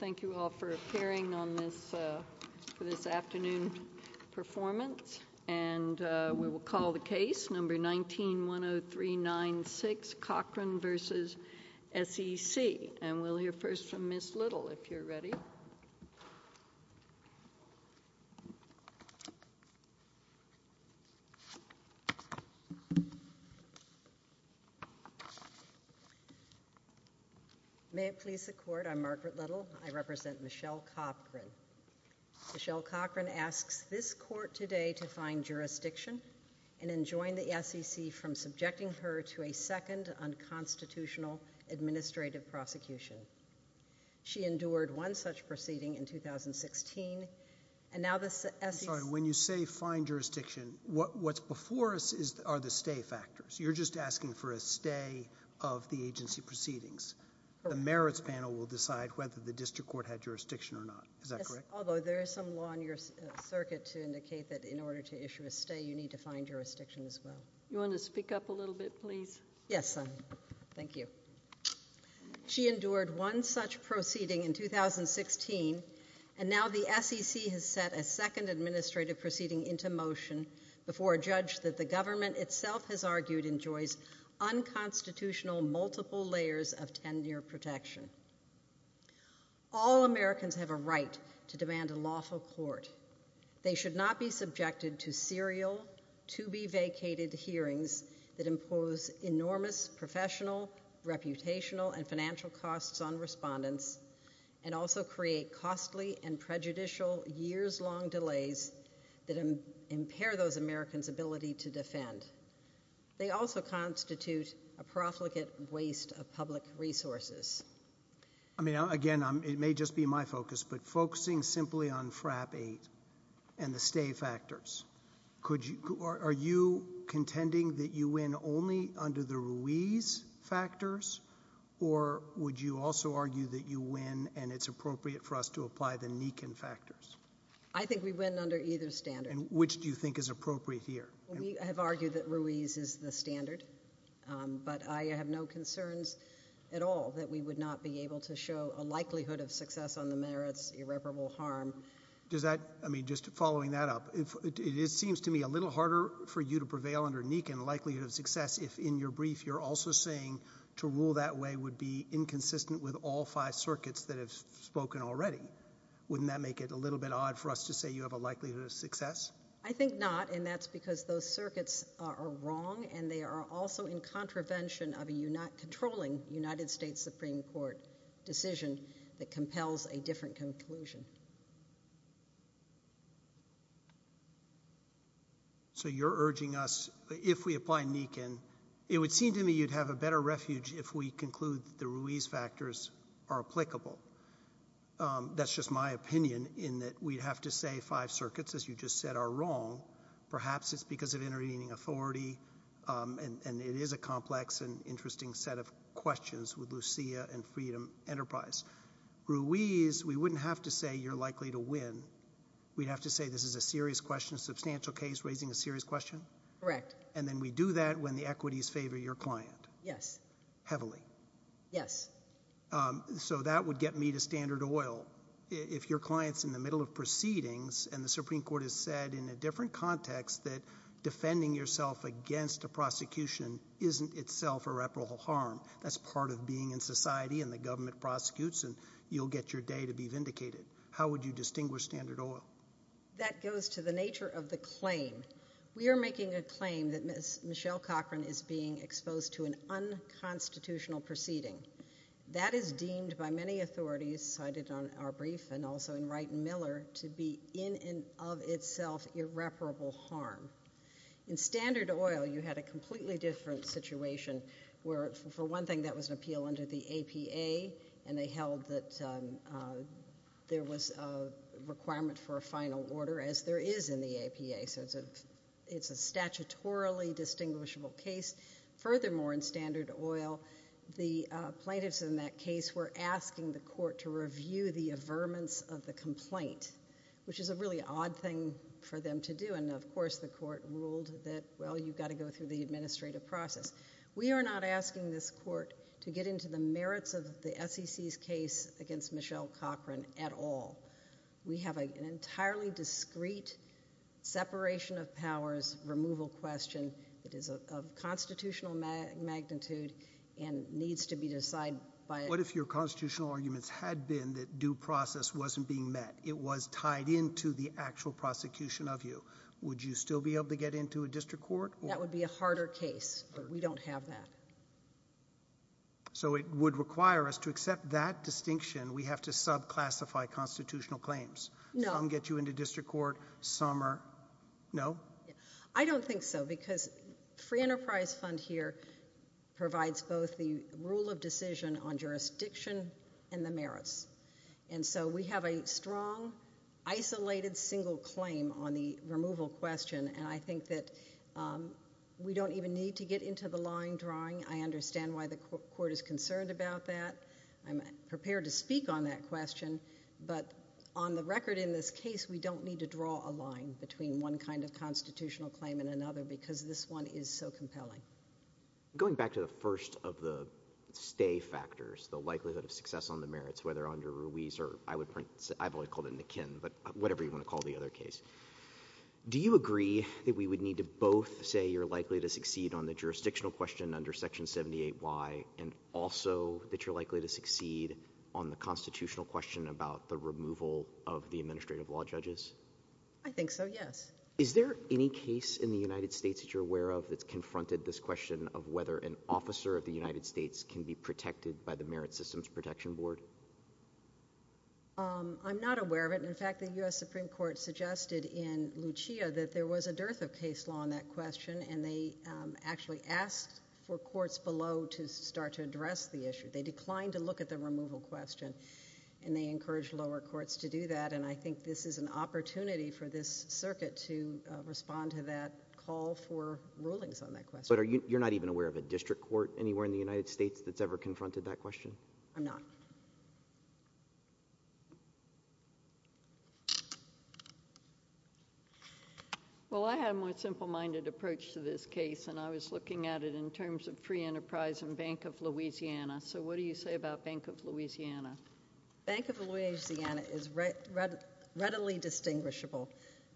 Thank you all for appearing for this afternoon's performance, and we will call the case, number 19-10396, Cochran v. SEC. And we'll hear first from Ms. Little, if you're ready. May it please the Court. I'm Margaret Little. I represent Michelle Cochran. Michelle Cochran asks this Court today to find jurisdiction and enjoin the SEC from subjecting her to a second unconstitutional administrative prosecution. She endured one such proceeding in 2016, and now the SEC's— I'm sorry. When you say find jurisdiction, what's before us are the stay factors. You're just asking for a stay of the agency proceedings. The merits panel will decide whether the district court had jurisdiction or not. Is that correct? Yes, although there is some law in your circuit to indicate that in order to issue a stay, you need to find jurisdiction as well. You want to speak up a little bit, please? Yes, thank you. She endured one such proceeding in 2016, and now the SEC has set a second administrative proceeding into motion before a judge that the government itself has argued enjoys unconstitutional multiple layers of tenure protection. All Americans have a right to demand a lawful court. They should not be subjected to serial, to-be-vacated hearings that impose enormous professional, reputational and financial costs on respondents, and also create costly and prejudicial years-long They also constitute a profligate waste of public resources. I mean, again, it may just be my focus, but focusing simply on FRAP 8 and the stay factors, are you contending that you win only under the Ruiz factors, or would you also argue that you win and it's appropriate for us to apply the Nikin factors? I think we win under either standard. Which do you think is appropriate here? We have argued that Ruiz is the standard, but I have no concerns at all that we would not be able to show a likelihood of success on the merits, irreparable harm. Does that, I mean, just following that up, it seems to me a little harder for you to prevail under Nikin likelihood of success if in your brief you're also saying to rule that way would be inconsistent with all five circuits that have spoken already. Wouldn't that make it a little bit odd for us to say you have a likelihood of success? I think not, and that's because those circuits are wrong and they are also in contravention of a controlling United States Supreme Court decision that compels a different conclusion. So you're urging us, if we apply Nikin, it would seem to me you'd have a better refuge if we conclude that the Ruiz factors are applicable. That's just my opinion in that we'd have to say five circuits, as you just said, are wrong. Perhaps it's because of intervening authority, and it is a complex and interesting set of questions with Lucia and Freedom Enterprise. Ruiz, we wouldn't have to say you're likely to win. We'd have to say this is a serious question, substantial case, raising a serious question? Correct. And then we do that when the equities favor your client? Yes. Heavily? Yes. So that would get me to Standard Oil. If your client's in the middle of proceedings and the Supreme Court has said in a different context that defending yourself against a prosecution isn't itself a reparable harm, that's part of being in society and the government prosecutes and you'll get your day to be vindicated. How would you distinguish Standard Oil? That goes to the nature of the claim. We are making a claim that Michelle Cochran is being exposed to an unconstitutional proceeding. That is deemed by many authorities, cited on our brief and also in Wright and Miller, to be in and of itself irreparable harm. In Standard Oil, you had a completely different situation where, for one thing, that was an appeal under the APA, and they held that there was a requirement for a final order, as there is in the APA, so it's a statutorily distinguishable case. Furthermore, in Standard Oil, the plaintiffs in that case were asking the court to review the averments of the complaint, which is a really odd thing for them to do, and of course the court ruled that, well, you've got to go through the administrative process. We are not asking this court to get into the merits of the SEC's case against Michelle Cochran at all. We have an entirely discreet separation of powers removal question that is of constitutional magnitude and needs to be decided by— What if your constitutional arguments had been that due process wasn't being met? It was tied into the actual prosecution of you? Would you still be able to get into a district court? That would be a harder case, but we don't have that. So it would require us to accept that distinction. We have to subclassify constitutional claims. No. Some get you into district court, some are—no? I don't think so, because Free Enterprise Fund here provides both the rule of decision on jurisdiction and the merits, and so we have a strong, isolated, single claim on the line drawing. I understand why the court is concerned about that. I'm prepared to speak on that question, but on the record in this case, we don't need to draw a line between one kind of constitutional claim and another because this one is so compelling. Going back to the first of the stay factors, the likelihood of success on the merits, whether under Ruiz or—I would point—I've only called it McKinn, but whatever you want to call the other case. Do you agree that we would need to both say you're likely to succeed on the jurisdictional question under Section 78Y and also that you're likely to succeed on the constitutional question about the removal of the administrative law judges? I think so, yes. Is there any case in the United States that you're aware of that's confronted this question of whether an officer of the United States can be protected by the Merit Systems Protection Board? I'm not aware of it. In fact, the U.S. Supreme Court suggested in Lucia that there was a dearth of case law on that question, and they actually asked for courts below to start to address the issue. They declined to look at the removal question, and they encouraged lower courts to do that, and I think this is an opportunity for this circuit to respond to that call for rulings on that question. But you're not even aware of a district court anywhere in the United States that's ever confronted that question? I'm not. Well, I had a more simple-minded approach to this case, and I was looking at it in terms of free enterprise and Bank of Louisiana. So what do you say about Bank of Louisiana? Bank of Louisiana is readily distinguishable.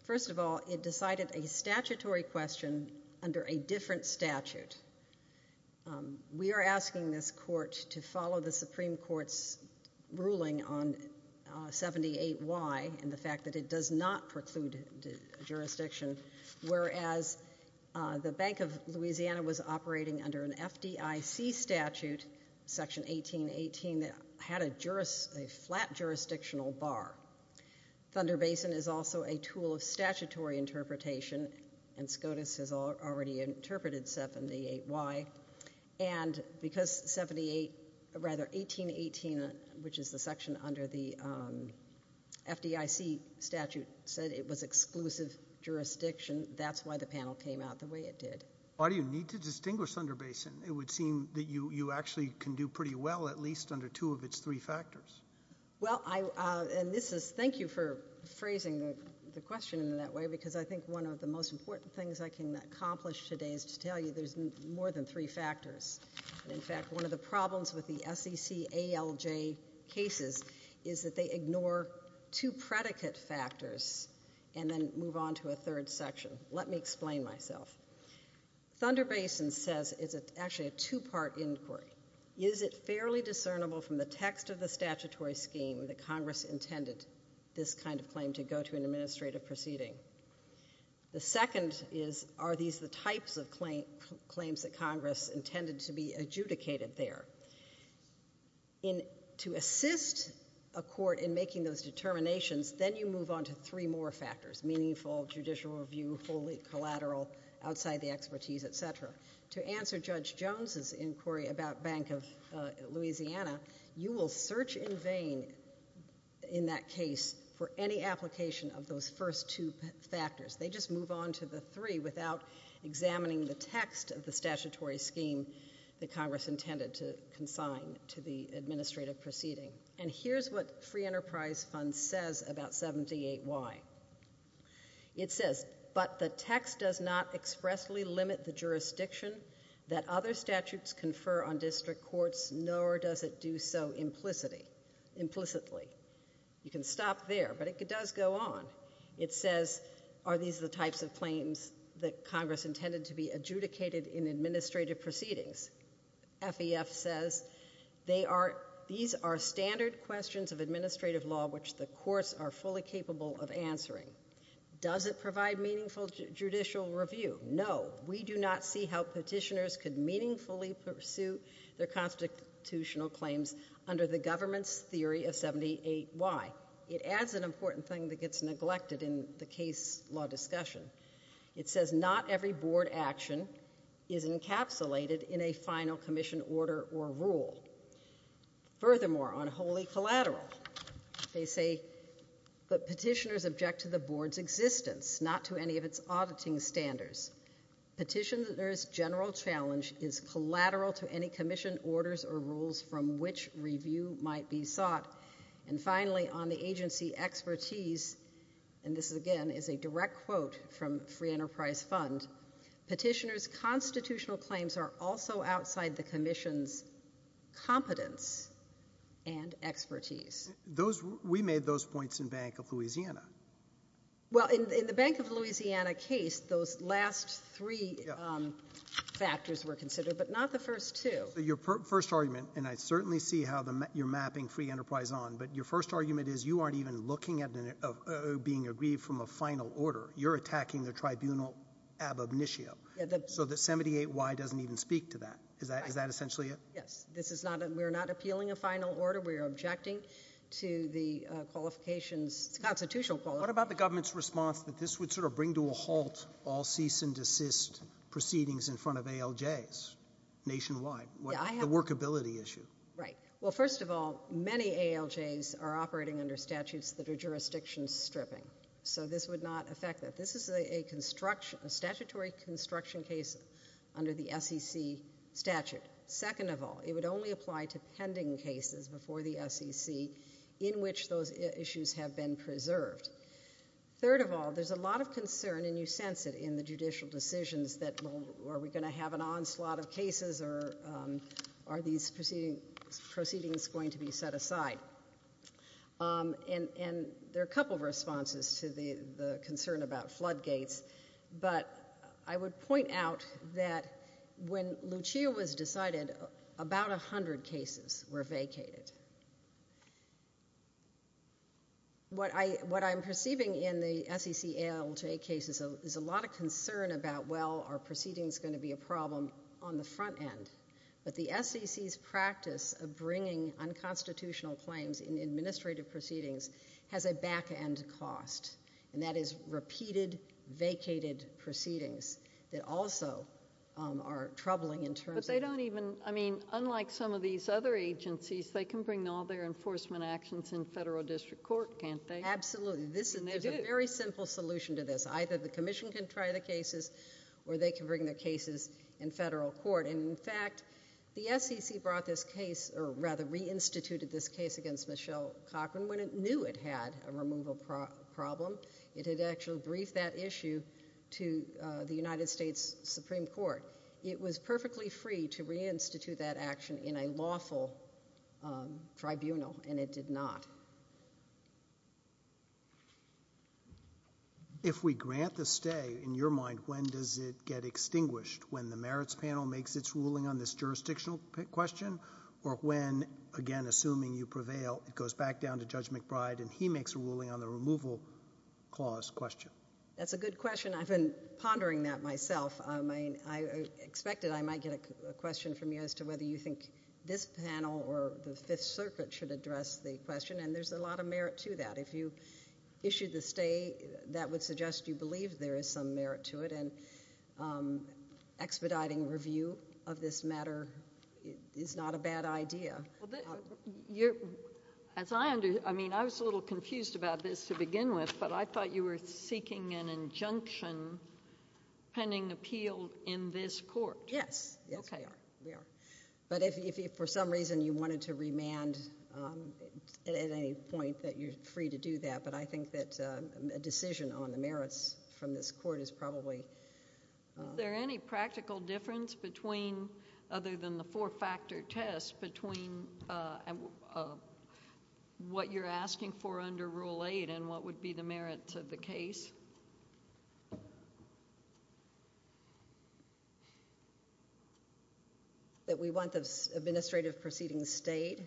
First of all, it decided a statutory question under a different statute. We are asking this court to follow the Supreme Court's ruling on 78Y and the fact that it does not preclude jurisdiction, whereas the Bank of Louisiana was operating under an FDIC statute, Section 1818, that had a flat jurisdictional bar. Thunder Basin is also a tool of statutory interpretation, and SCOTUS has already interpreted 78Y, and because 1818, which is the section under the FDIC statute, said it was exclusive jurisdiction, that's why the panel came out the way it did. Why do you need to distinguish Thunder Basin? It would seem that you actually can do pretty well, at least under two of its three factors. Well, thank you for phrasing the question in that way, because I think one of the most there's more than three factors. In fact, one of the problems with the SEC ALJ cases is that they ignore two predicate factors and then move on to a third section. Let me explain myself. Thunder Basin says it's actually a two-part inquiry. Is it fairly discernible from the text of the statutory scheme that Congress intended this kind of claim to go to an administrative proceeding? The second is, are these the types of claims that Congress intended to be adjudicated there? To assist a court in making those determinations, then you move on to three more factors, meaningful, judicial review, wholly collateral, outside the expertise, et cetera. To answer Judge Jones's inquiry about Bank of Louisiana, you will search in vain in that three factors. They just move on to the three without examining the text of the statutory scheme that Congress intended to consign to the administrative proceeding. And here's what Free Enterprise Fund says about 78Y. It says, but the text does not expressly limit the jurisdiction that other statutes confer on district courts, nor does it do so implicitly. You can stop there, but it does go on. It says, are these the types of claims that Congress intended to be adjudicated in administrative proceedings? FEF says, these are standard questions of administrative law which the courts are fully capable of answering. Does it provide meaningful judicial review? No. We do not see how petitioners could meaningfully pursue their constitutional claims under the government's theory of 78Y. It adds an important thing that gets neglected in the case law discussion. It says not every board action is encapsulated in a final commission order or rule. Furthermore, on wholly collateral, they say, but petitioners object to the board's existence, not to any of its auditing standards. Petitioner's general challenge is collateral to any commission orders or rules from which review might be sought. And finally, on the agency expertise, and this, again, is a direct quote from Free Enterprise Fund, petitioners' constitutional claims are also outside the commission's competence and expertise. We made those points in Bank of Louisiana. Well, in the Bank of Louisiana case, those last three factors were considered, but not the first two. Your first argument, and I certainly see how you're mapping Free Enterprise on, but your first argument is you aren't even looking at being agreed from a final order. You're attacking the tribunal ab initio. So the 78Y doesn't even speak to that. Is that essentially it? Yes. We're not appealing a final order. We're objecting to the qualifications, constitutional qualifications. What about the government's response that this would sort of bring to a halt all cease and Right. Well, first of all, many ALJs are operating under statutes that are jurisdiction stripping. So this would not affect that. This is a statutory construction case under the SEC statute. Second of all, it would only apply to pending cases before the SEC in which those issues have been preserved. Third of all, there's a lot of concern, and you sense it in the judicial decisions, that well, are we going to have an onslaught of cases or are these proceedings going to be set aside? And there are a couple of responses to the concern about floodgates. But I would point out that when Lucia was decided, about 100 cases were vacated. What I'm perceiving in the SEC ALJ case is there's a lot of concern about, well, are proceedings going to be a problem on the front end? But the SEC's practice of bringing unconstitutional claims in administrative proceedings has a back end cost, and that is repeated, vacated proceedings that also are troubling in terms of Unlike some of these other agencies, they can bring all their enforcement actions in federal district court, can't they? Absolutely. There's a very simple solution to this. Either the commission can try the cases or they can bring their cases in federal court. In fact, the SEC reinstituted this case against Michelle Cochran when it knew it had a removal problem. It had actually briefed that issue to the United States Supreme Court. It was perfectly free to reinstitute that action in a lawful tribunal, and it did not. If we grant the stay, in your mind, when does it get extinguished? When the merits panel makes its ruling on this jurisdictional question? Or when, again, assuming you prevail, it goes back down to Judge McBride and he makes a ruling on the removal clause question? That's a good question. I've been pondering that myself. I expected I might get a question from you as to whether you think this panel or the Fifth Circuit should address the question, and there's a lot of merit to that. If you issue the stay, that would suggest you believe there is some merit to it, and expediting review of this matter is not a bad idea. I was a little confused about this to begin with, but I thought you were seeking an injunction pending appeal in this court. Yes. Yes, we are. But if for some reason you wanted to remand at any point, you're free to do that, but I think that a decision on the merits from this court is probably... Is there any practical difference, other than the four-factor test, between what you're asking for under Rule 8 and what would be the merits of the case? That... That we want the administrative proceeding stayed?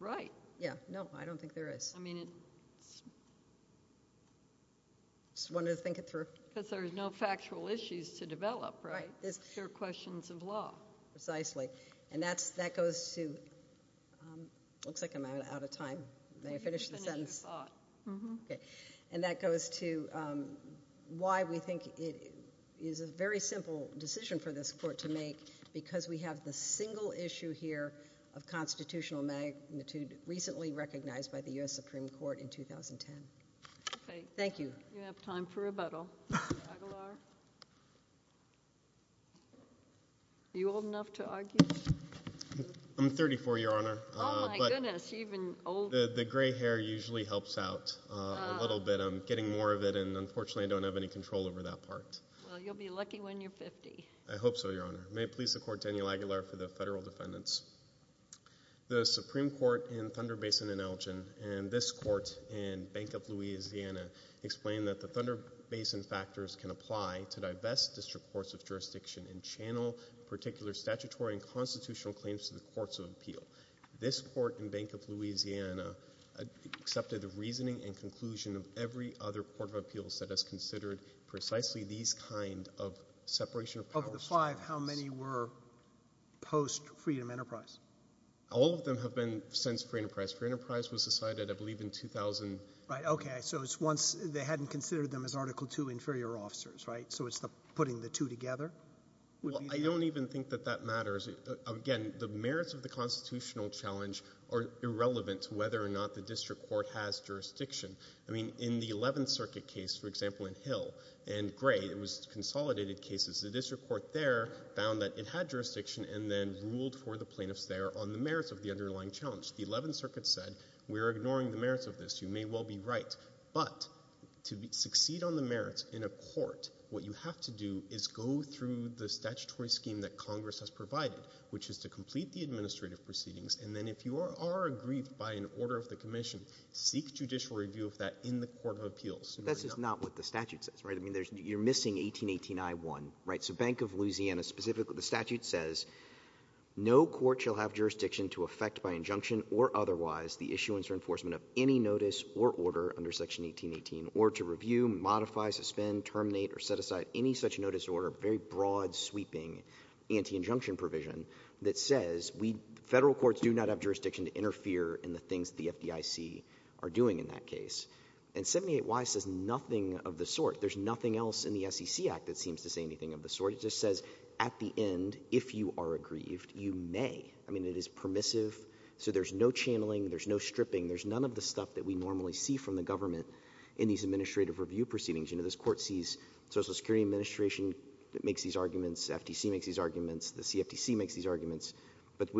Right. Yeah. No, I don't think there is. I mean, it's... I just wanted to think it through. Because there's no factual issues to develop, right? Right. They're questions of law. Precisely. And that goes to... It looks like I'm out of time. May I finish the sentence? You can finish your thought. Okay. And that goes to why we think it is a very simple decision for this court to make, because we have the single issue here of constitutional magnitude recently recognized by the U.S. Supreme Court in 2010. Okay. You have time for rebuttal. Aguilar? Are you old enough to argue? I'm 34, Your Honor. Oh, my goodness. You've been old. The gray hair usually helps out a little bit. I'm getting more of it, and unfortunately, I don't have any control over that part. Well, you'll be lucky when you're 50. I hope so, Your Honor. May it please the Court, Daniel Aguilar for the federal defendants. The Supreme Court in Thunder Basin and Elgin, and this court in Bank of Louisiana, explain that the Thunder Basin factors can apply to divest district courts of jurisdiction and channel particular statutory and constitutional claims to the courts of appeal. This court in Bank of Louisiana accepted the reasoning and conclusion of every other court of appeals that has considered precisely these kind of separation of powers cases. Of the five, how many were post-Freedom Enterprise? All of them have been since Freedom Enterprise. Freedom Enterprise was decided, I believe, in 2000. Right. Okay. So it's once they hadn't considered them as Article II inferior officers, right? So it's putting the two together? Well, I don't even think that that matters. Again, the merits of the constitutional challenge are irrelevant to whether or not the district court has jurisdiction. I mean, in the Eleventh Circuit case, for example, in Hill and Gray, it was consolidated cases. The district court there found that it had jurisdiction and then ruled for the plaintiffs there on the merits of the underlying challenge. The Eleventh Circuit said, we're ignoring the merits of this. You may well be right. But to succeed on the merits in a court, what you have to do is go through the statutory scheme that Congress has provided, which is to complete the administrative proceedings, and then if you are aggrieved by an order of the commission, seek judicial review of that in the Court of Appeals. That's just not what the statute says, right? I mean, you're missing 1818I1, right? So Bank of Louisiana specifically, the statute says, no court shall have jurisdiction to effect by injunction or otherwise the issuance or enforcement of any notice or order under Section 1818 or to review, modify, suspend, terminate, or set aside any such notice or order. Very broad, sweeping, anti-injunction provision that says, we, federal courts do not have jurisdiction to interfere in the things that the FDIC are doing in that case. And 78Y says nothing of the sort. There's nothing else in the SEC Act that seems to say anything of the sort. It just says, at the end, if you are aggrieved, you may. I mean, it is permissive. So there's no channeling. There's no stripping. There's none of the stuff that we normally see from the government in these administrative review proceedings. You know, this court sees Social Security Administration that makes these arguments. FDC makes these arguments. The CFTC makes these arguments. But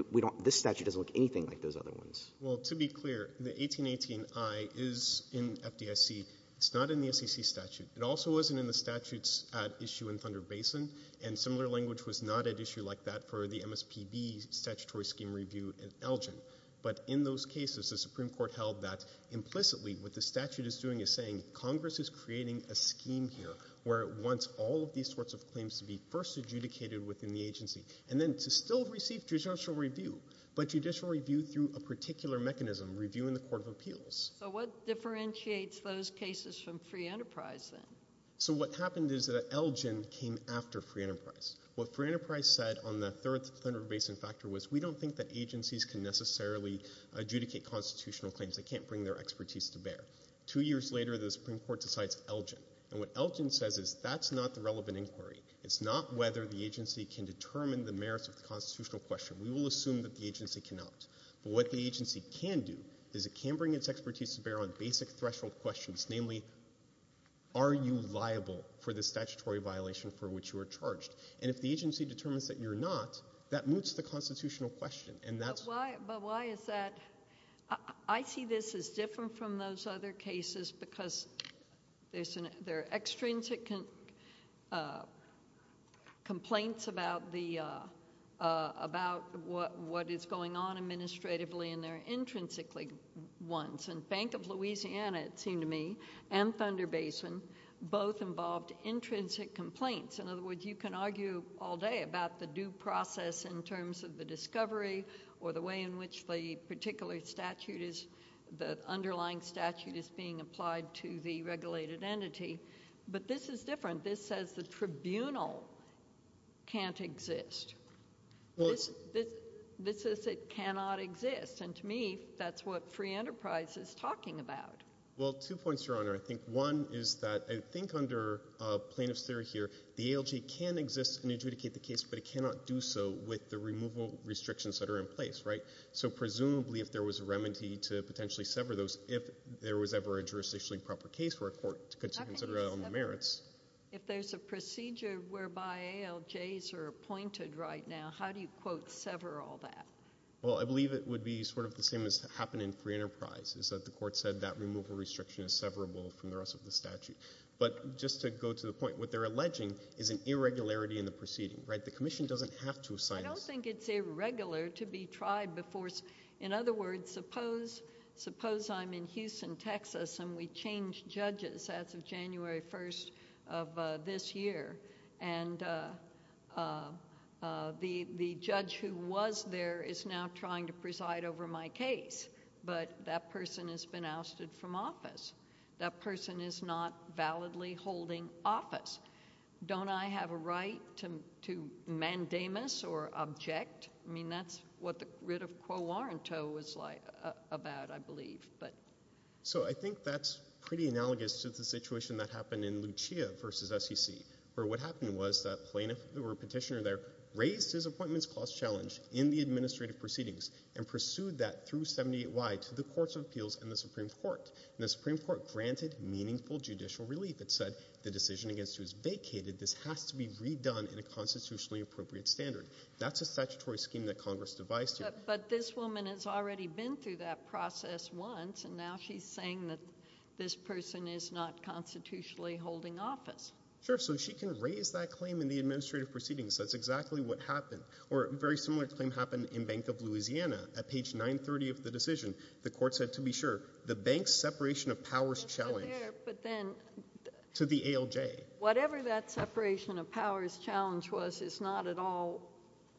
this statute doesn't look anything like those other ones. Well, to be clear, the 1818I is in FDIC. It's not in the SEC statute. It also isn't in the statutes at issue in Thunder Basin. And similar language was not at issue like that for the MSPB statutory scheme review in Elgin. But in those cases, the Supreme Court held that, implicitly, what the statute is doing is saying, Congress is creating a scheme here where it wants all of these sorts of claims to be first adjudicated within the agency and then to still receive judicial review, but judicial review through a particular mechanism, review in the Court of Appeals. So what differentiates those cases from Free Enterprise then? So what happened is that Elgin came after Free Enterprise. What Free Enterprise said on the third Thunder Basin factor was, we don't think that agencies can necessarily adjudicate constitutional claims. They can't bring their expertise to bear. Two years later, the Supreme Court decides Elgin. And what Elgin says is, that's not the relevant inquiry. It's not whether the agency can determine the merits of the constitutional question. We will assume that the agency cannot. But what the agency can do is it can bring its expertise to bear on basic threshold questions, namely, are you liable for the statutory violation for which you are charged? And if the agency determines that you're not, that moots the constitutional question. But why is that? I see this as different from those other cases because there are extrinsic complaints about what is going on administratively and there are intrinsically ones. And Bank of Louisiana, it seemed to me, and Thunder Basin both involved intrinsic complaints. In other words, you can argue all day about the due process in terms of the discovery or the way in which the particular statute is, the underlying statute is being applied to the regulated entity. But this is different. This says the tribunal can't exist. This says it cannot exist. And to me, that's what Free Enterprise is talking about. Well, two points, Your Honor. I think one is that I think under plaintiff's theory here, the ALJ can exist and adjudicate the case, but it cannot do so with the removal restrictions that are in place, right? So presumably, if there was a remedy to potentially sever those, if there was ever a jurisdictionally proper case where a court could consider its own merits. If there's a procedure whereby ALJs are appointed right now, how do you, quote, sever all that? Well, I believe it would be sort of the same as happened in Free Enterprise, is that the But just to go to the point, what they're alleging is an irregularity in the proceeding, right? The commission doesn't have to assign this. I don't think it's irregular to be tried before. In other words, suppose I'm in Houston, Texas, and we change judges as of January 1st of this year, and the judge who was there is now trying to preside over my case, but that person has been ousted from office. That person is not validly holding office. Don't I have a right to mandamus or object? I mean, that's what the writ of quo warranto was about, I believe. So I think that's pretty analogous to the situation that happened in Lucia versus SEC, where what happened was that plaintiff or petitioner there raised his appointments clause challenge in the administrative proceedings and pursued that through 78Y to the courts of appeals and the Supreme Court. And the Supreme Court granted meaningful judicial relief. It said the decision against you is vacated. This has to be redone in a constitutionally appropriate standard. That's a statutory scheme that Congress devised. But this woman has already been through that process once, and now she's saying that this person is not constitutionally holding office. Sure. So she can raise that claim in the administrative proceedings. That's exactly what happened. Or a very similar claim happened in Bank of Louisiana. At page 930 of the decision, the court said, to be sure, the bank's separation of powers challenge to the ALJ. Whatever that separation of powers challenge was is not at all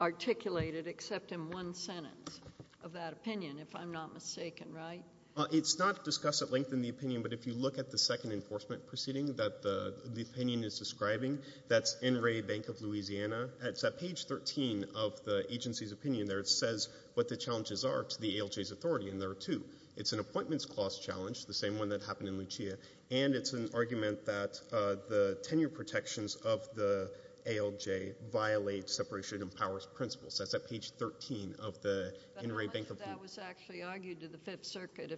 articulated except in one sentence of that opinion, if I'm not mistaken, right? It's not discussed at length in the opinion, but if you look at the second enforcement proceeding that the opinion is describing, that's NRA Bank of Louisiana. It's at page 13 of the agency's opinion there. It says what the challenges are to the ALJ's authority, and there are two. It's an appointments clause challenge, the same one that happened in Lucia, and it's an argument that the tenure protections of the ALJ violate separation of powers principles. That's at page 13 of the NRA Bank of Louisiana. But how much of that was actually argued to the Fifth Circuit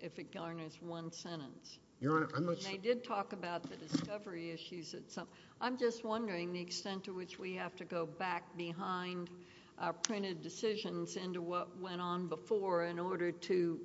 if it garners one sentence? Your Honor, I'm not sure. They did talk about the discovery issues at some — I'm just wondering the extent to which we have to go back behind printed decisions into what went on before in order to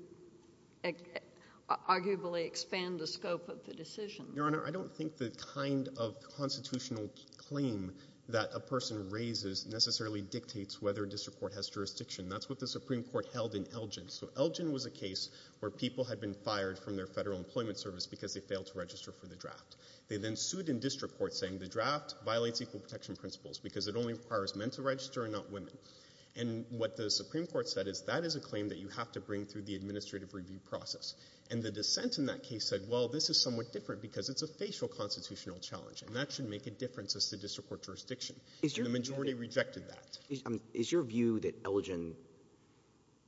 arguably expand the scope of the decision. Your Honor, I don't think the kind of constitutional claim that a person raises necessarily dictates whether a district court has jurisdiction. That's what the Supreme Court held in Elgin. So Elgin was a case where people had been fired from their federal employment service because they failed to register for the draft. They then sued in district court saying the draft violates equal protection principles because it only requires men to register and not women. And what the Supreme Court said is that is a claim that you have to bring through the administrative review process. And the dissent in that case said, well, this is somewhat different because it's a facial constitutional challenge, and that should make a difference as to district court jurisdiction. The majority rejected that. Is your view that Elgin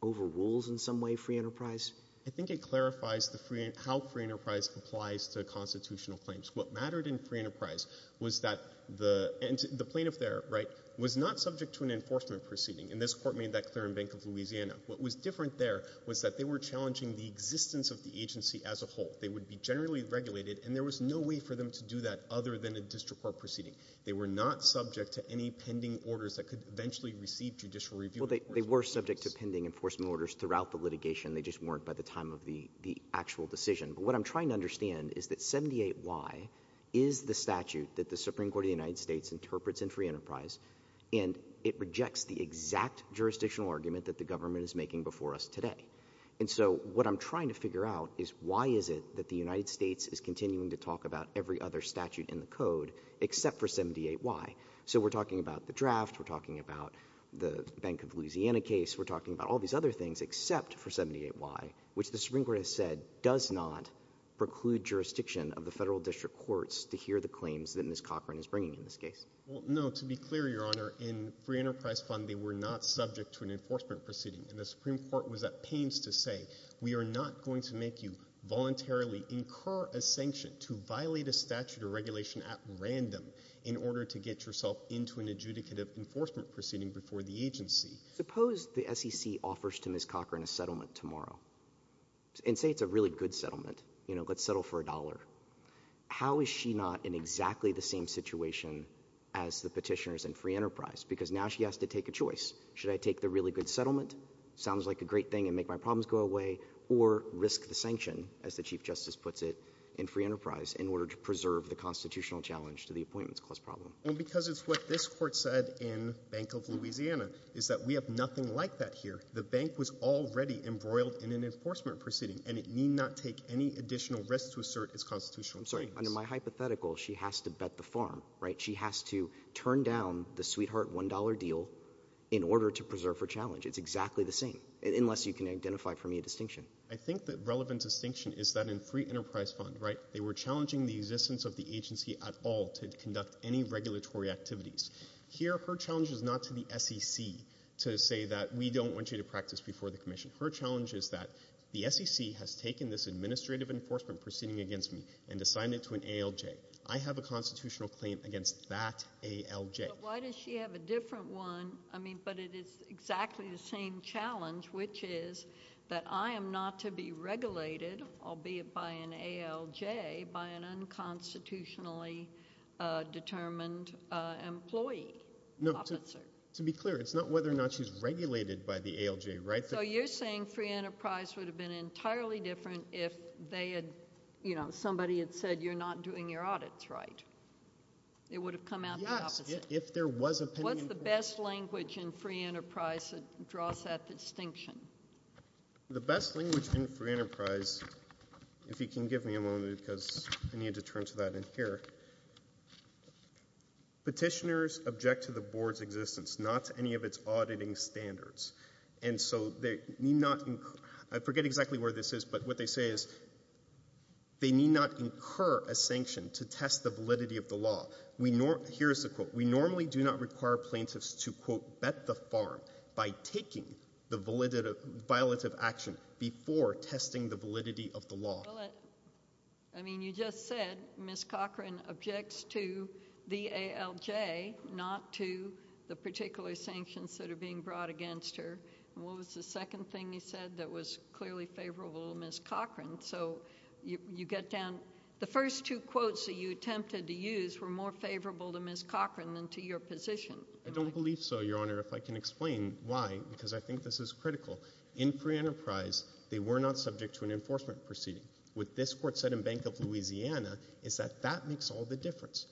overrules in some way free enterprise? I think it clarifies how free enterprise applies to constitutional claims. What mattered in free enterprise was that the plaintiff there, right, was not subject to an enforcement proceeding. And this Court made that clear in Bank of Louisiana. What was different there was that they were challenging the existence of the agency as a whole. They would be generally regulated, and there was no way for them to do that other than a district court proceeding. They were not subject to any pending orders that could eventually receive judicial review. Well, they were subject to pending enforcement orders throughout the litigation. They just weren't by the time of the actual decision. But what I'm trying to understand is that 78Y is the statute that the Supreme Court of the United States interprets in free enterprise, and it rejects the exact jurisdictional argument that the government is making before us today. And so what I'm trying to figure out is why is it that the United States is continuing to talk about every other statute in the Code except for 78Y? So we're talking about the draft. We're talking about the Bank of Louisiana case. We're talking about all these other things except for 78Y, which the Supreme Court has said does not preclude jurisdiction of the federal district courts to hear the claims that Ms. Cochran is bringing in this case. Well, no. To be clear, Your Honor, in free enterprise fund they were not subject to an enforcement proceeding. And the Supreme Court was at pains to say we are not going to make you voluntarily incur a sanction to violate a statute or regulation at random in order to get yourself into an adjudicative enforcement proceeding before the agency. Suppose the SEC offers to Ms. Cochran a settlement tomorrow, and say it's a really good settlement. You know, let's settle for a dollar. How is she not in exactly the same situation as the petitioners in free enterprise? Because now she has to take a choice. Should I take the really good settlement? Sounds like a great thing and make my problems go away. Or risk the sanction, as the Chief Justice puts it, in free enterprise in order to preserve the constitutional challenge to the Appointments Clause problem? Well, because it's what this Court said in Bank of Louisiana, is that we have nothing like that here. The bank was already embroiled in an enforcement proceeding, and it need not take any additional risk to assert its constitutional claims. I'm sorry. Under my hypothetical, she has to bet the farm, right? She has to turn down the sweetheart $1 deal in order to preserve her challenge. It's exactly the same, unless you can identify for me a distinction. I think the relevant distinction is that in free enterprise fund, right, they were Here, her challenge is not to the SEC to say that we don't want you to practice before the Commission. Her challenge is that the SEC has taken this administrative enforcement proceeding against me and assigned it to an ALJ. I have a constitutional claim against that ALJ. But why does she have a different one, I mean, but it is exactly the same challenge, which is that I am not to be regulated, albeit by an ALJ, by an unconstitutionally determined employee, officer. No, to be clear, it's not whether or not she's regulated by the ALJ, right? So you're saying free enterprise would have been entirely different if they had, you know, somebody had said you're not doing your audits right. It would have come out the opposite. Yes, if there was opinion. What's the best language in free enterprise that draws that distinction? The best language in free enterprise, if you can give me a moment because I need to turn to that in here. Petitioners object to the Board's existence, not to any of its auditing standards. And so they need not, I forget exactly where this is, but what they say is they need not incur a sanction to test the validity of the law. Here's the quote. We normally do not require plaintiffs to, quote, bet the farm by taking the violative action before testing the validity of the law. Well, I mean, you just said Ms. Cochran objects to the ALJ, not to the particular sanctions that are being brought against her. And what was the second thing he said that was clearly favorable to Ms. Cochran? So you get down, the first two quotes that you attempted to use were more favorable to Ms. Cochran than to your position. I don't believe so, Your Honor. If I can explain why, because I think this is critical. In free enterprise, they were not subject to an enforcement proceeding. What this court said in Bank of Louisiana is that that makes all the difference.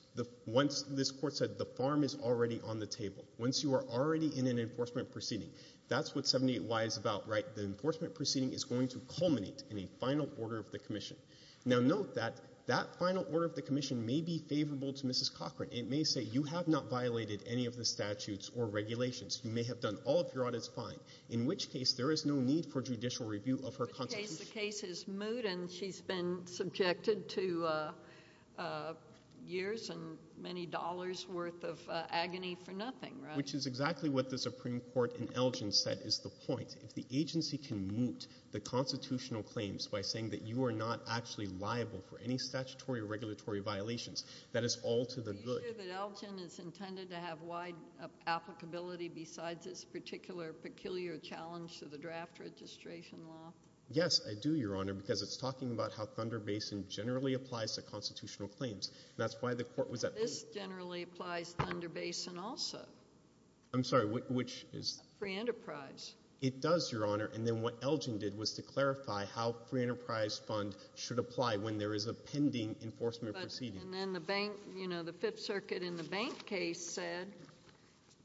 Once this court said the farm is already on the table, once you are already in an enforcement proceeding, that's what 78Y is about, right? The enforcement proceeding is going to culminate in a final order of the commission. Now, note that that final order of the commission may be favorable to Mrs. Cochran. It may say you have not violated any of the statutes or regulations. You may have done all of your audits fine. In which case, there is no need for judicial review of her constitution. In which case, the case is moot and she's been subjected to years and many dollars worth of agony for nothing, right? Which is exactly what the Supreme Court in Elgin said is the point. If the agency can moot the constitutional claims by saying that you are not actually liable for any statutory or regulatory violations, that is all to the good. Are you sure that Elgin is intended to have wide applicability besides this particular peculiar challenge to the draft registration law? Yes, I do, Your Honor, because it's talking about how Thunder Basin generally applies to constitutional claims. That's why the court was at— This generally applies to Thunder Basin also. I'm sorry. Which is? Free Enterprise. It does, Your Honor. And then what Elgin did was to clarify how Free Enterprise Fund should apply when there is a pending enforcement proceeding. And then the bank, you know, the Fifth Circuit in the bank case said,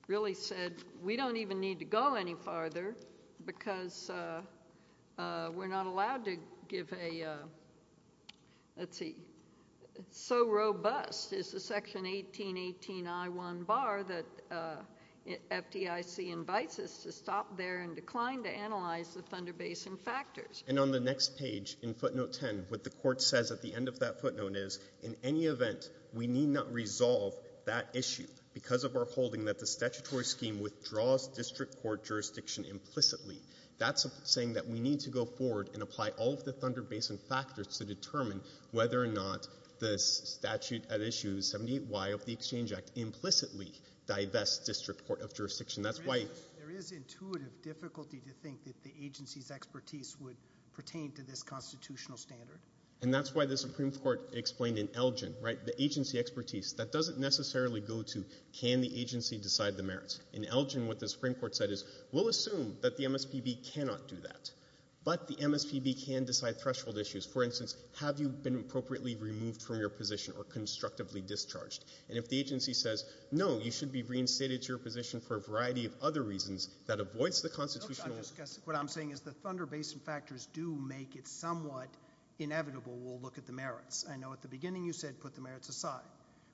really said, we don't even need to go any farther because we're not allowed to give a, let's see, so robust is the section 1818I1 bar that FDIC invites us to stop there and decline to analyze the Thunder Basin factors. And on the next page in footnote 10, what the court says at the end of that footnote is, in any event, we need not resolve that issue because of our holding that the statutory scheme withdraws district court jurisdiction implicitly. That's saying that we need to go forward and apply all of the Thunder Basin factors to determine whether or not the statute at issue 78Y of the Exchange Act implicitly divests district court of jurisdiction. That's why— There is intuitive difficulty to think that the agency's expertise would pertain to this constitutional standard. And that's why the Supreme Court explained in Elgin, right, the agency expertise, that doesn't necessarily go to can the agency decide the merits. In Elgin, what the Supreme Court said is, we'll assume that the MSPB cannot do that, but the MSPB can decide threshold issues. For instance, have you been appropriately removed from your position or constructively discharged? And if the agency says, no, you should be reinstated to your position for a variety of other reasons that avoids the constitutional— I know at the beginning you said put the merits aside.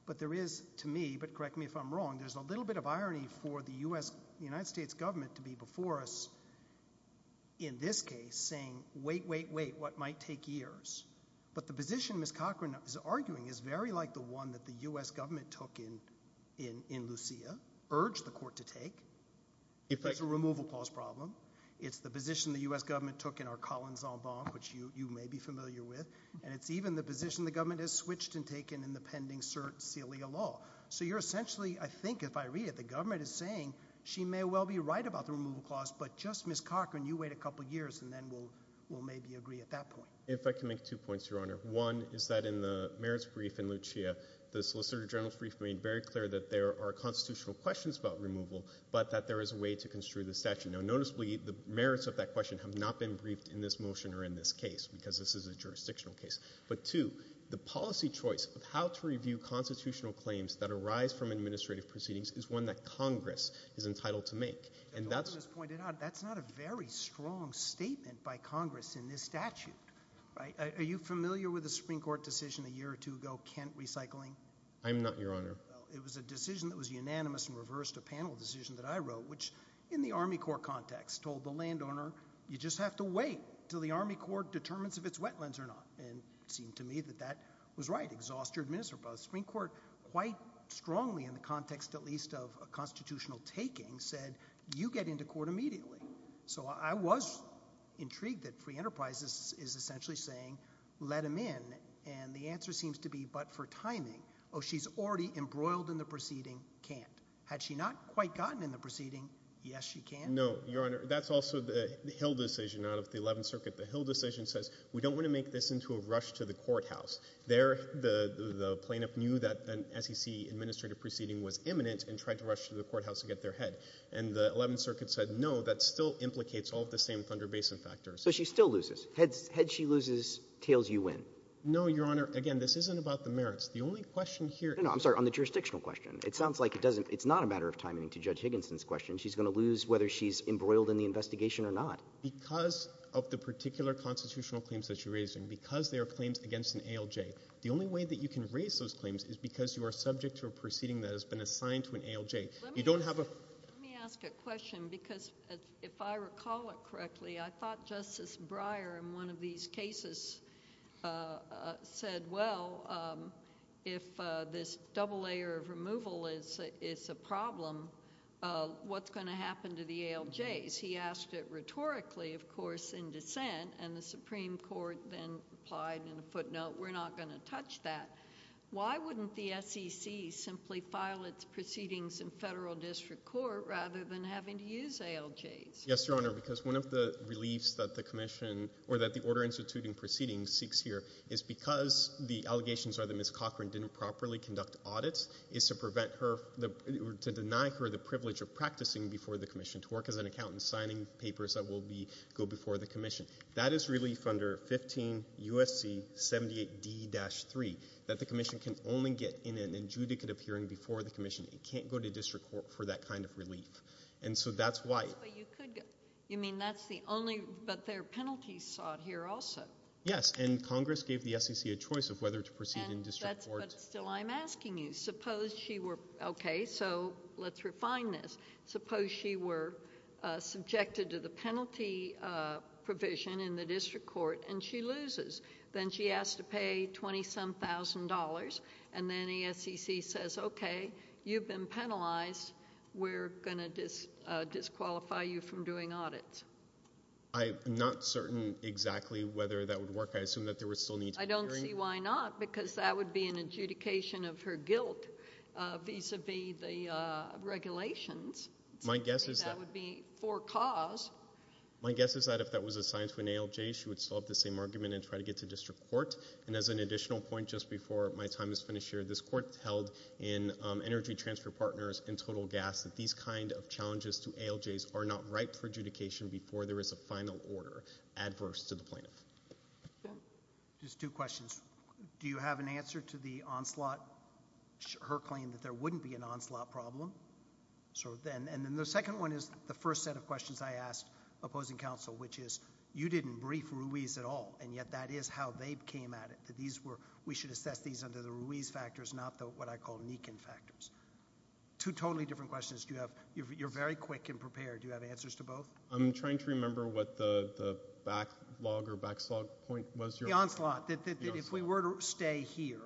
But there is, to me, but correct me if I'm wrong, there's a little bit of irony for the U.S., the United States government to be before us in this case saying, wait, wait, wait, what might take years? But the position Ms. Cochran is arguing is very like the one that the U.S. government took in Lucia, urged the court to take. It's a removal clause problem. It's the position the U.S. government took in our Collin Zambon, which you may be familiar with. And it's even the position the government has switched and taken in the pending cert cilia law. So you're essentially, I think if I read it, the government is saying, she may well be right about the removal clause, but just Ms. Cochran, you wait a couple of years and then we'll maybe agree at that point. If I can make two points, Your Honor. One is that in the merits brief in Lucia, the solicitor general's brief made very clear that there are constitutional questions about removal, but that there is a way to construe the statute. Now, noticeably, the merits of that question have not been briefed in this motion or in this case, because this is a jurisdictional case. But two, the policy choice of how to review constitutional claims that arise from administrative proceedings is one that Congress is entitled to make. And that's — Your Honor, as pointed out, that's not a very strong statement by Congress in this statute, right? Are you familiar with the Supreme Court decision a year or two ago, Kent recycling? I'm not, Your Honor. Well, it was a decision that was unanimous and reversed a panel decision that I wrote, which, in the Army Corps context, told the landowner, you just have to wait until the Army Corps determines if it's wetlands or not. And it seemed to me that that was right. Exhaust your administrative process. The Supreme Court, quite strongly in the context at least of a constitutional taking, said, you get into court immediately. So I was intrigued that Free Enterprise is essentially saying, let him in. And the answer seems to be, but for timing. Oh, she's already embroiled in the proceeding. Can't. Had she not quite gotten in the proceeding, yes, she can. No, Your Honor. That's also the Hill decision out of the Eleventh Circuit. The Hill decision says, we don't want to make this into a rush to the courthouse. There, the plaintiff knew that an SEC administrative proceeding was imminent and tried to rush to the courthouse to get their head. And the Eleventh Circuit said, no, that still implicates all of the same Thunder Basin factors. So she still loses. Head she loses, tails you win. No, Your Honor. Again, this isn't about the merits. The only question here — No, no. I'm sorry. Your Honor, on the jurisdictional question, it sounds like it doesn't — it's not a matter of timing to Judge Higginson's question. She's going to lose whether she's embroiled in the investigation or not. Because of the particular constitutional claims that she raised, and because they're claims against an ALJ, the only way that you can raise those claims is because you're subject to a proceeding that has been assigned to an ALJ. You don't have a — Let me ask a question. Because if I recall it correctly, I thought Justice Breyer in one of these cases said, well, if this double layer of removal is a problem, what's going to happen to the ALJs? He asked it rhetorically, of course, in dissent, and the Supreme Court then replied in a footnote, we're not going to touch that. Why wouldn't the SEC simply file its proceedings in federal district court rather than having to use ALJs? Yes, Your Honor, because one of the reliefs that the commission — or that the Order of Restituting Proceedings seeks here is because the allegations are that Ms. Cochran didn't properly conduct audits, is to prevent her — to deny her the privilege of practicing before the commission, to work as an accountant, signing papers that will be — go before the commission. That is relief under 15 U.S.C. 78d-3, that the commission can only get in an adjudicative hearing before the commission. It can't go to district court for that kind of relief. And so that's why — You mean that's the only — but there are penalties sought here also? Yes, and Congress gave the SEC a choice of whether to proceed in district court — But still, I'm asking you, suppose she were — okay, so let's refine this. Suppose she were subjected to the penalty provision in the district court and she loses. Then she has to pay 20-some thousand dollars, and then the SEC says, okay, you've been I'm not certain exactly whether that would work. I assume that there would still need to be hearings. I don't see why not, because that would be an adjudication of her guilt vis-a-vis the regulations. My guess is that — That would be for cause. My guess is that if that was assigned to an ALJ, she would still have the same argument and try to get to district court. And as an additional point, just before my time is finished here, this court held in challenges to ALJs are not right for adjudication before there is a final order adverse to the plaintiff. Ben? Just two questions. Do you have an answer to the onslaught — her claim that there wouldn't be an onslaught problem? And then the second one is the first set of questions I asked opposing counsel, which is, you didn't brief Ruiz at all, and yet that is how they came at it, that these were — we should assess these under the Ruiz factors, not the what I call Nikin factors. Two totally different questions. Do you have — you're very quick and prepared. Do you have answers to both? I'm trying to remember what the backlog or backslug point was. The onslaught, that if we were to stay here,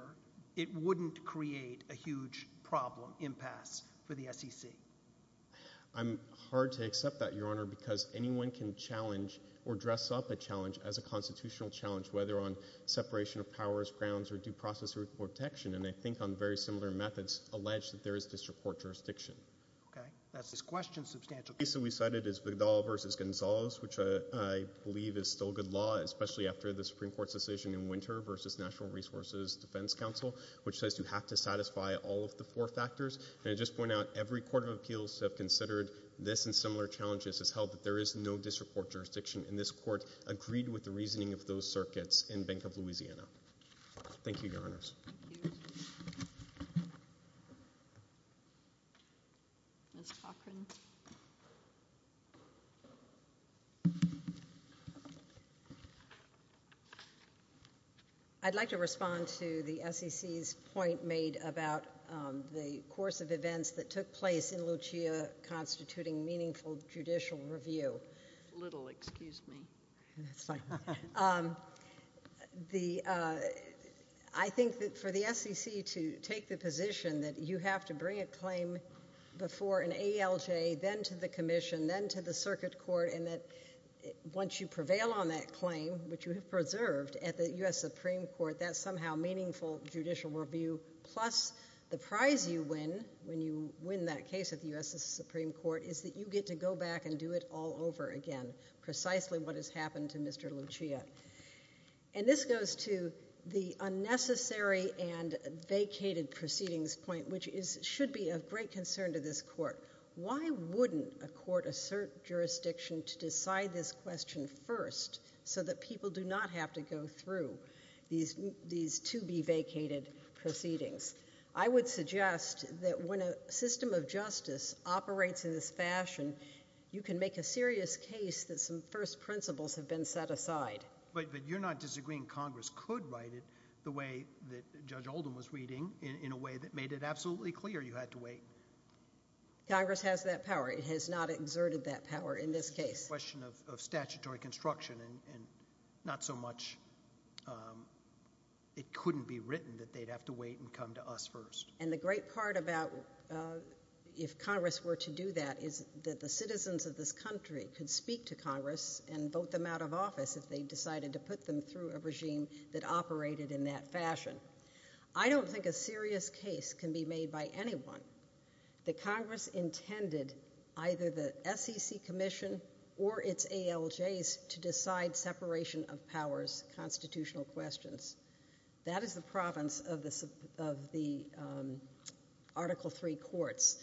it wouldn't create a huge problem, impasse for the SEC. I'm hard to accept that, Your Honor, because anyone can challenge or dress up a challenge as a constitutional challenge, whether on separation of powers, grounds, or due process or protection. And I think on very similar methods, alleged that there is district court jurisdiction. Okay. That's this question, substantial case that we cited is Vidal v. Gonzalez, which I believe is still good law, especially after the Supreme Court's decision in winter versus National Resources Defense Council, which says you have to satisfy all of the four factors. And I just point out, every court of appeals have considered this and similar challenges as held that there is no district court jurisdiction, and this Court agreed with the reasoning of those circuits in Bank of Louisiana. Thank you, Your Honors. Thank you. Ms. Cochran. I'd like to respond to the SEC's point made about the course of events that took place in Lucia constituting meaningful judicial review. Little, excuse me. That's fine. I think that for the SEC to take the position that you have to bring a claim before an ALJ, then to the commission, then to the circuit court, and that once you prevail on that claim, which you have preserved at the U.S. Supreme Court, that's somehow meaningful judicial review. Plus, the prize you win when you win that case at the U.S. Supreme Court is that you get to go back and do it all over again, precisely what has happened to Mr. Lucia. And this goes to the unnecessary and vacated proceedings point, which should be of great concern to this Court. Why wouldn't a court assert jurisdiction to decide this question first so that people do not have to go through these to-be-vacated proceedings? I would suggest that when a system of justice operates in this fashion, you can make a serious case that some first principles have been set aside. But you're not disagreeing Congress could write it the way that Judge Oldham was reading, in a way that made it absolutely clear you had to wait. Congress has that power. It has not exerted that power in this case. It's a question of statutory construction, and not so much it couldn't be written that they'd have to wait and come to us first. And the great part about if Congress were to do that is that the citizens of this country could speak to Congress and vote them out of office if they decided to put them through a regime that operated in that fashion. I don't think a serious case can be made by anyone that Congress intended either the SEC Commission or its ALJs to decide separation of powers constitutional questions. That is the province of the Article III courts.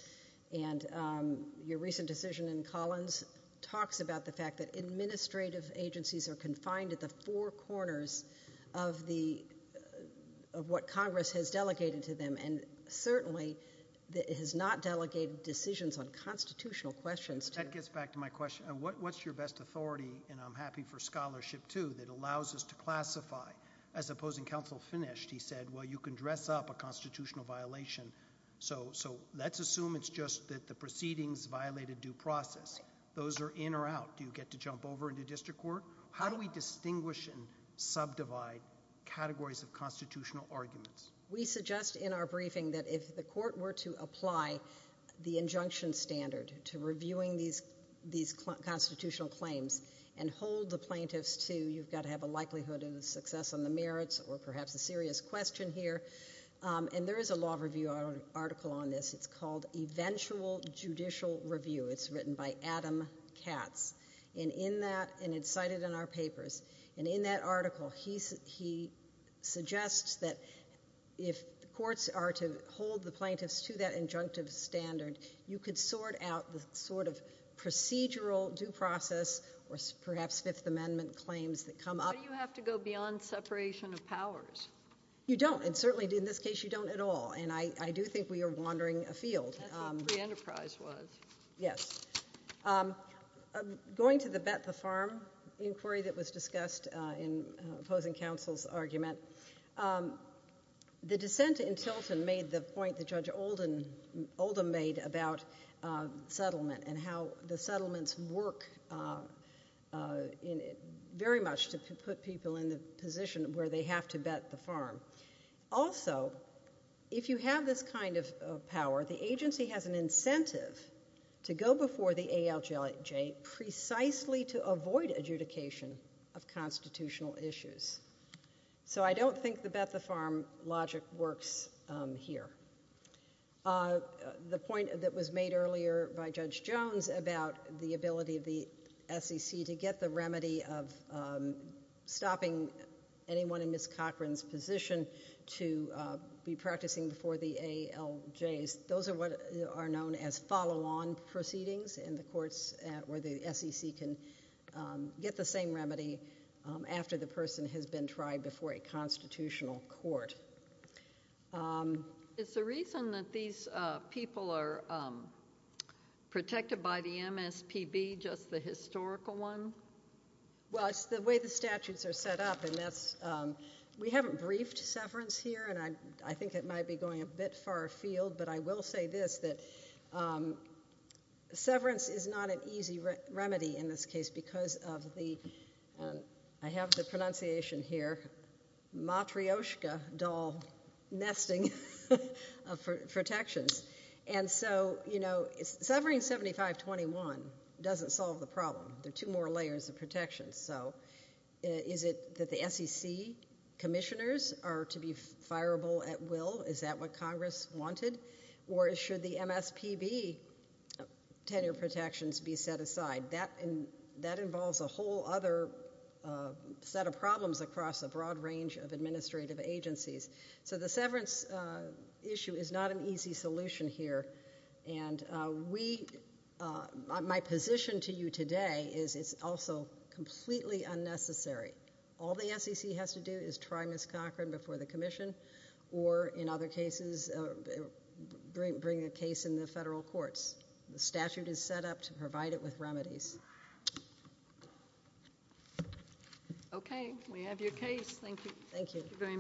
And your recent decision in Collins talks about the fact that administrative agencies are confined at the four corners of what Congress has delegated to them. And certainly it has not delegated decisions on constitutional questions. That gets back to my question. What's your best authority, and I'm happy for scholarship too, that allows us to classify as opposing counsel finished. He said, well, you can dress up a constitutional violation, so let's assume it's just that the proceedings violate a due process. Those are in or out. Do you get to jump over into district court? How do we distinguish and subdivide categories of constitutional arguments? We suggest in our briefing that if the court were to apply the injunction standard to reviewing these constitutional claims and hold the plaintiffs to you've got to have a likelihood of success on the merits or perhaps a serious question here. And there is a law review article on this. It's called Eventual Judicial Review. It's written by Adam Katz. And in that, and it's cited in our papers, and in that article, he suggests that if courts are to hold the plaintiffs to that injunctive standard, you could sort out the sort of procedural due process or perhaps Fifth Amendment claims that come up. Why do you have to go beyond separation of powers? You don't. And certainly in this case, you don't at all. And I do think we are wandering afield. That's what free enterprise was. Yes. Going to the bet the farm inquiry that was discussed in opposing counsel's argument, the dissent in Tilton made the point that Judge Oldham made about settlement and how the settlements work very much to put people in the position where they have to bet the farm. Also, if you have this kind of power, the agency has an incentive to go before the ALJJ precisely to avoid adjudication of constitutional issues. So I don't think the bet the farm logic works here. The point that was made earlier by Judge Jones about the ability of the SEC to get the remedy of stopping anyone in Ms. Cochran's position to be practicing before the ALJs, those are what are known as follow-on proceedings in the courts where the SEC can get the same remedy after the person has been tried before a constitutional court. Is the reason that these people are protected by the MSPB just the historical one? Well, it's the way the statutes are set up. We haven't briefed severance here, and I think it might be going a bit far afield, but I will say this, that severance is not an easy remedy in this case because of the I have the pronunciation here, matryoshka doll nesting of protections. And so, you know, severing 7521 doesn't solve the problem. There are two more layers of protections. So is it that the SEC commissioners are to be fireable at will? Is that what Congress wanted? Or should the MSPB tenure protections be set aside? That involves a whole other set of problems across a broad range of administrative agencies. So the severance issue is not an easy solution here. And my position to you today is it's also completely unnecessary. All the SEC has to do is try Ms. Cochran before the commission or, in other cases, bring a case in the federal courts. The statute is set up to provide it with remedies. Okay. We have your case. Thank you. Thank you very much.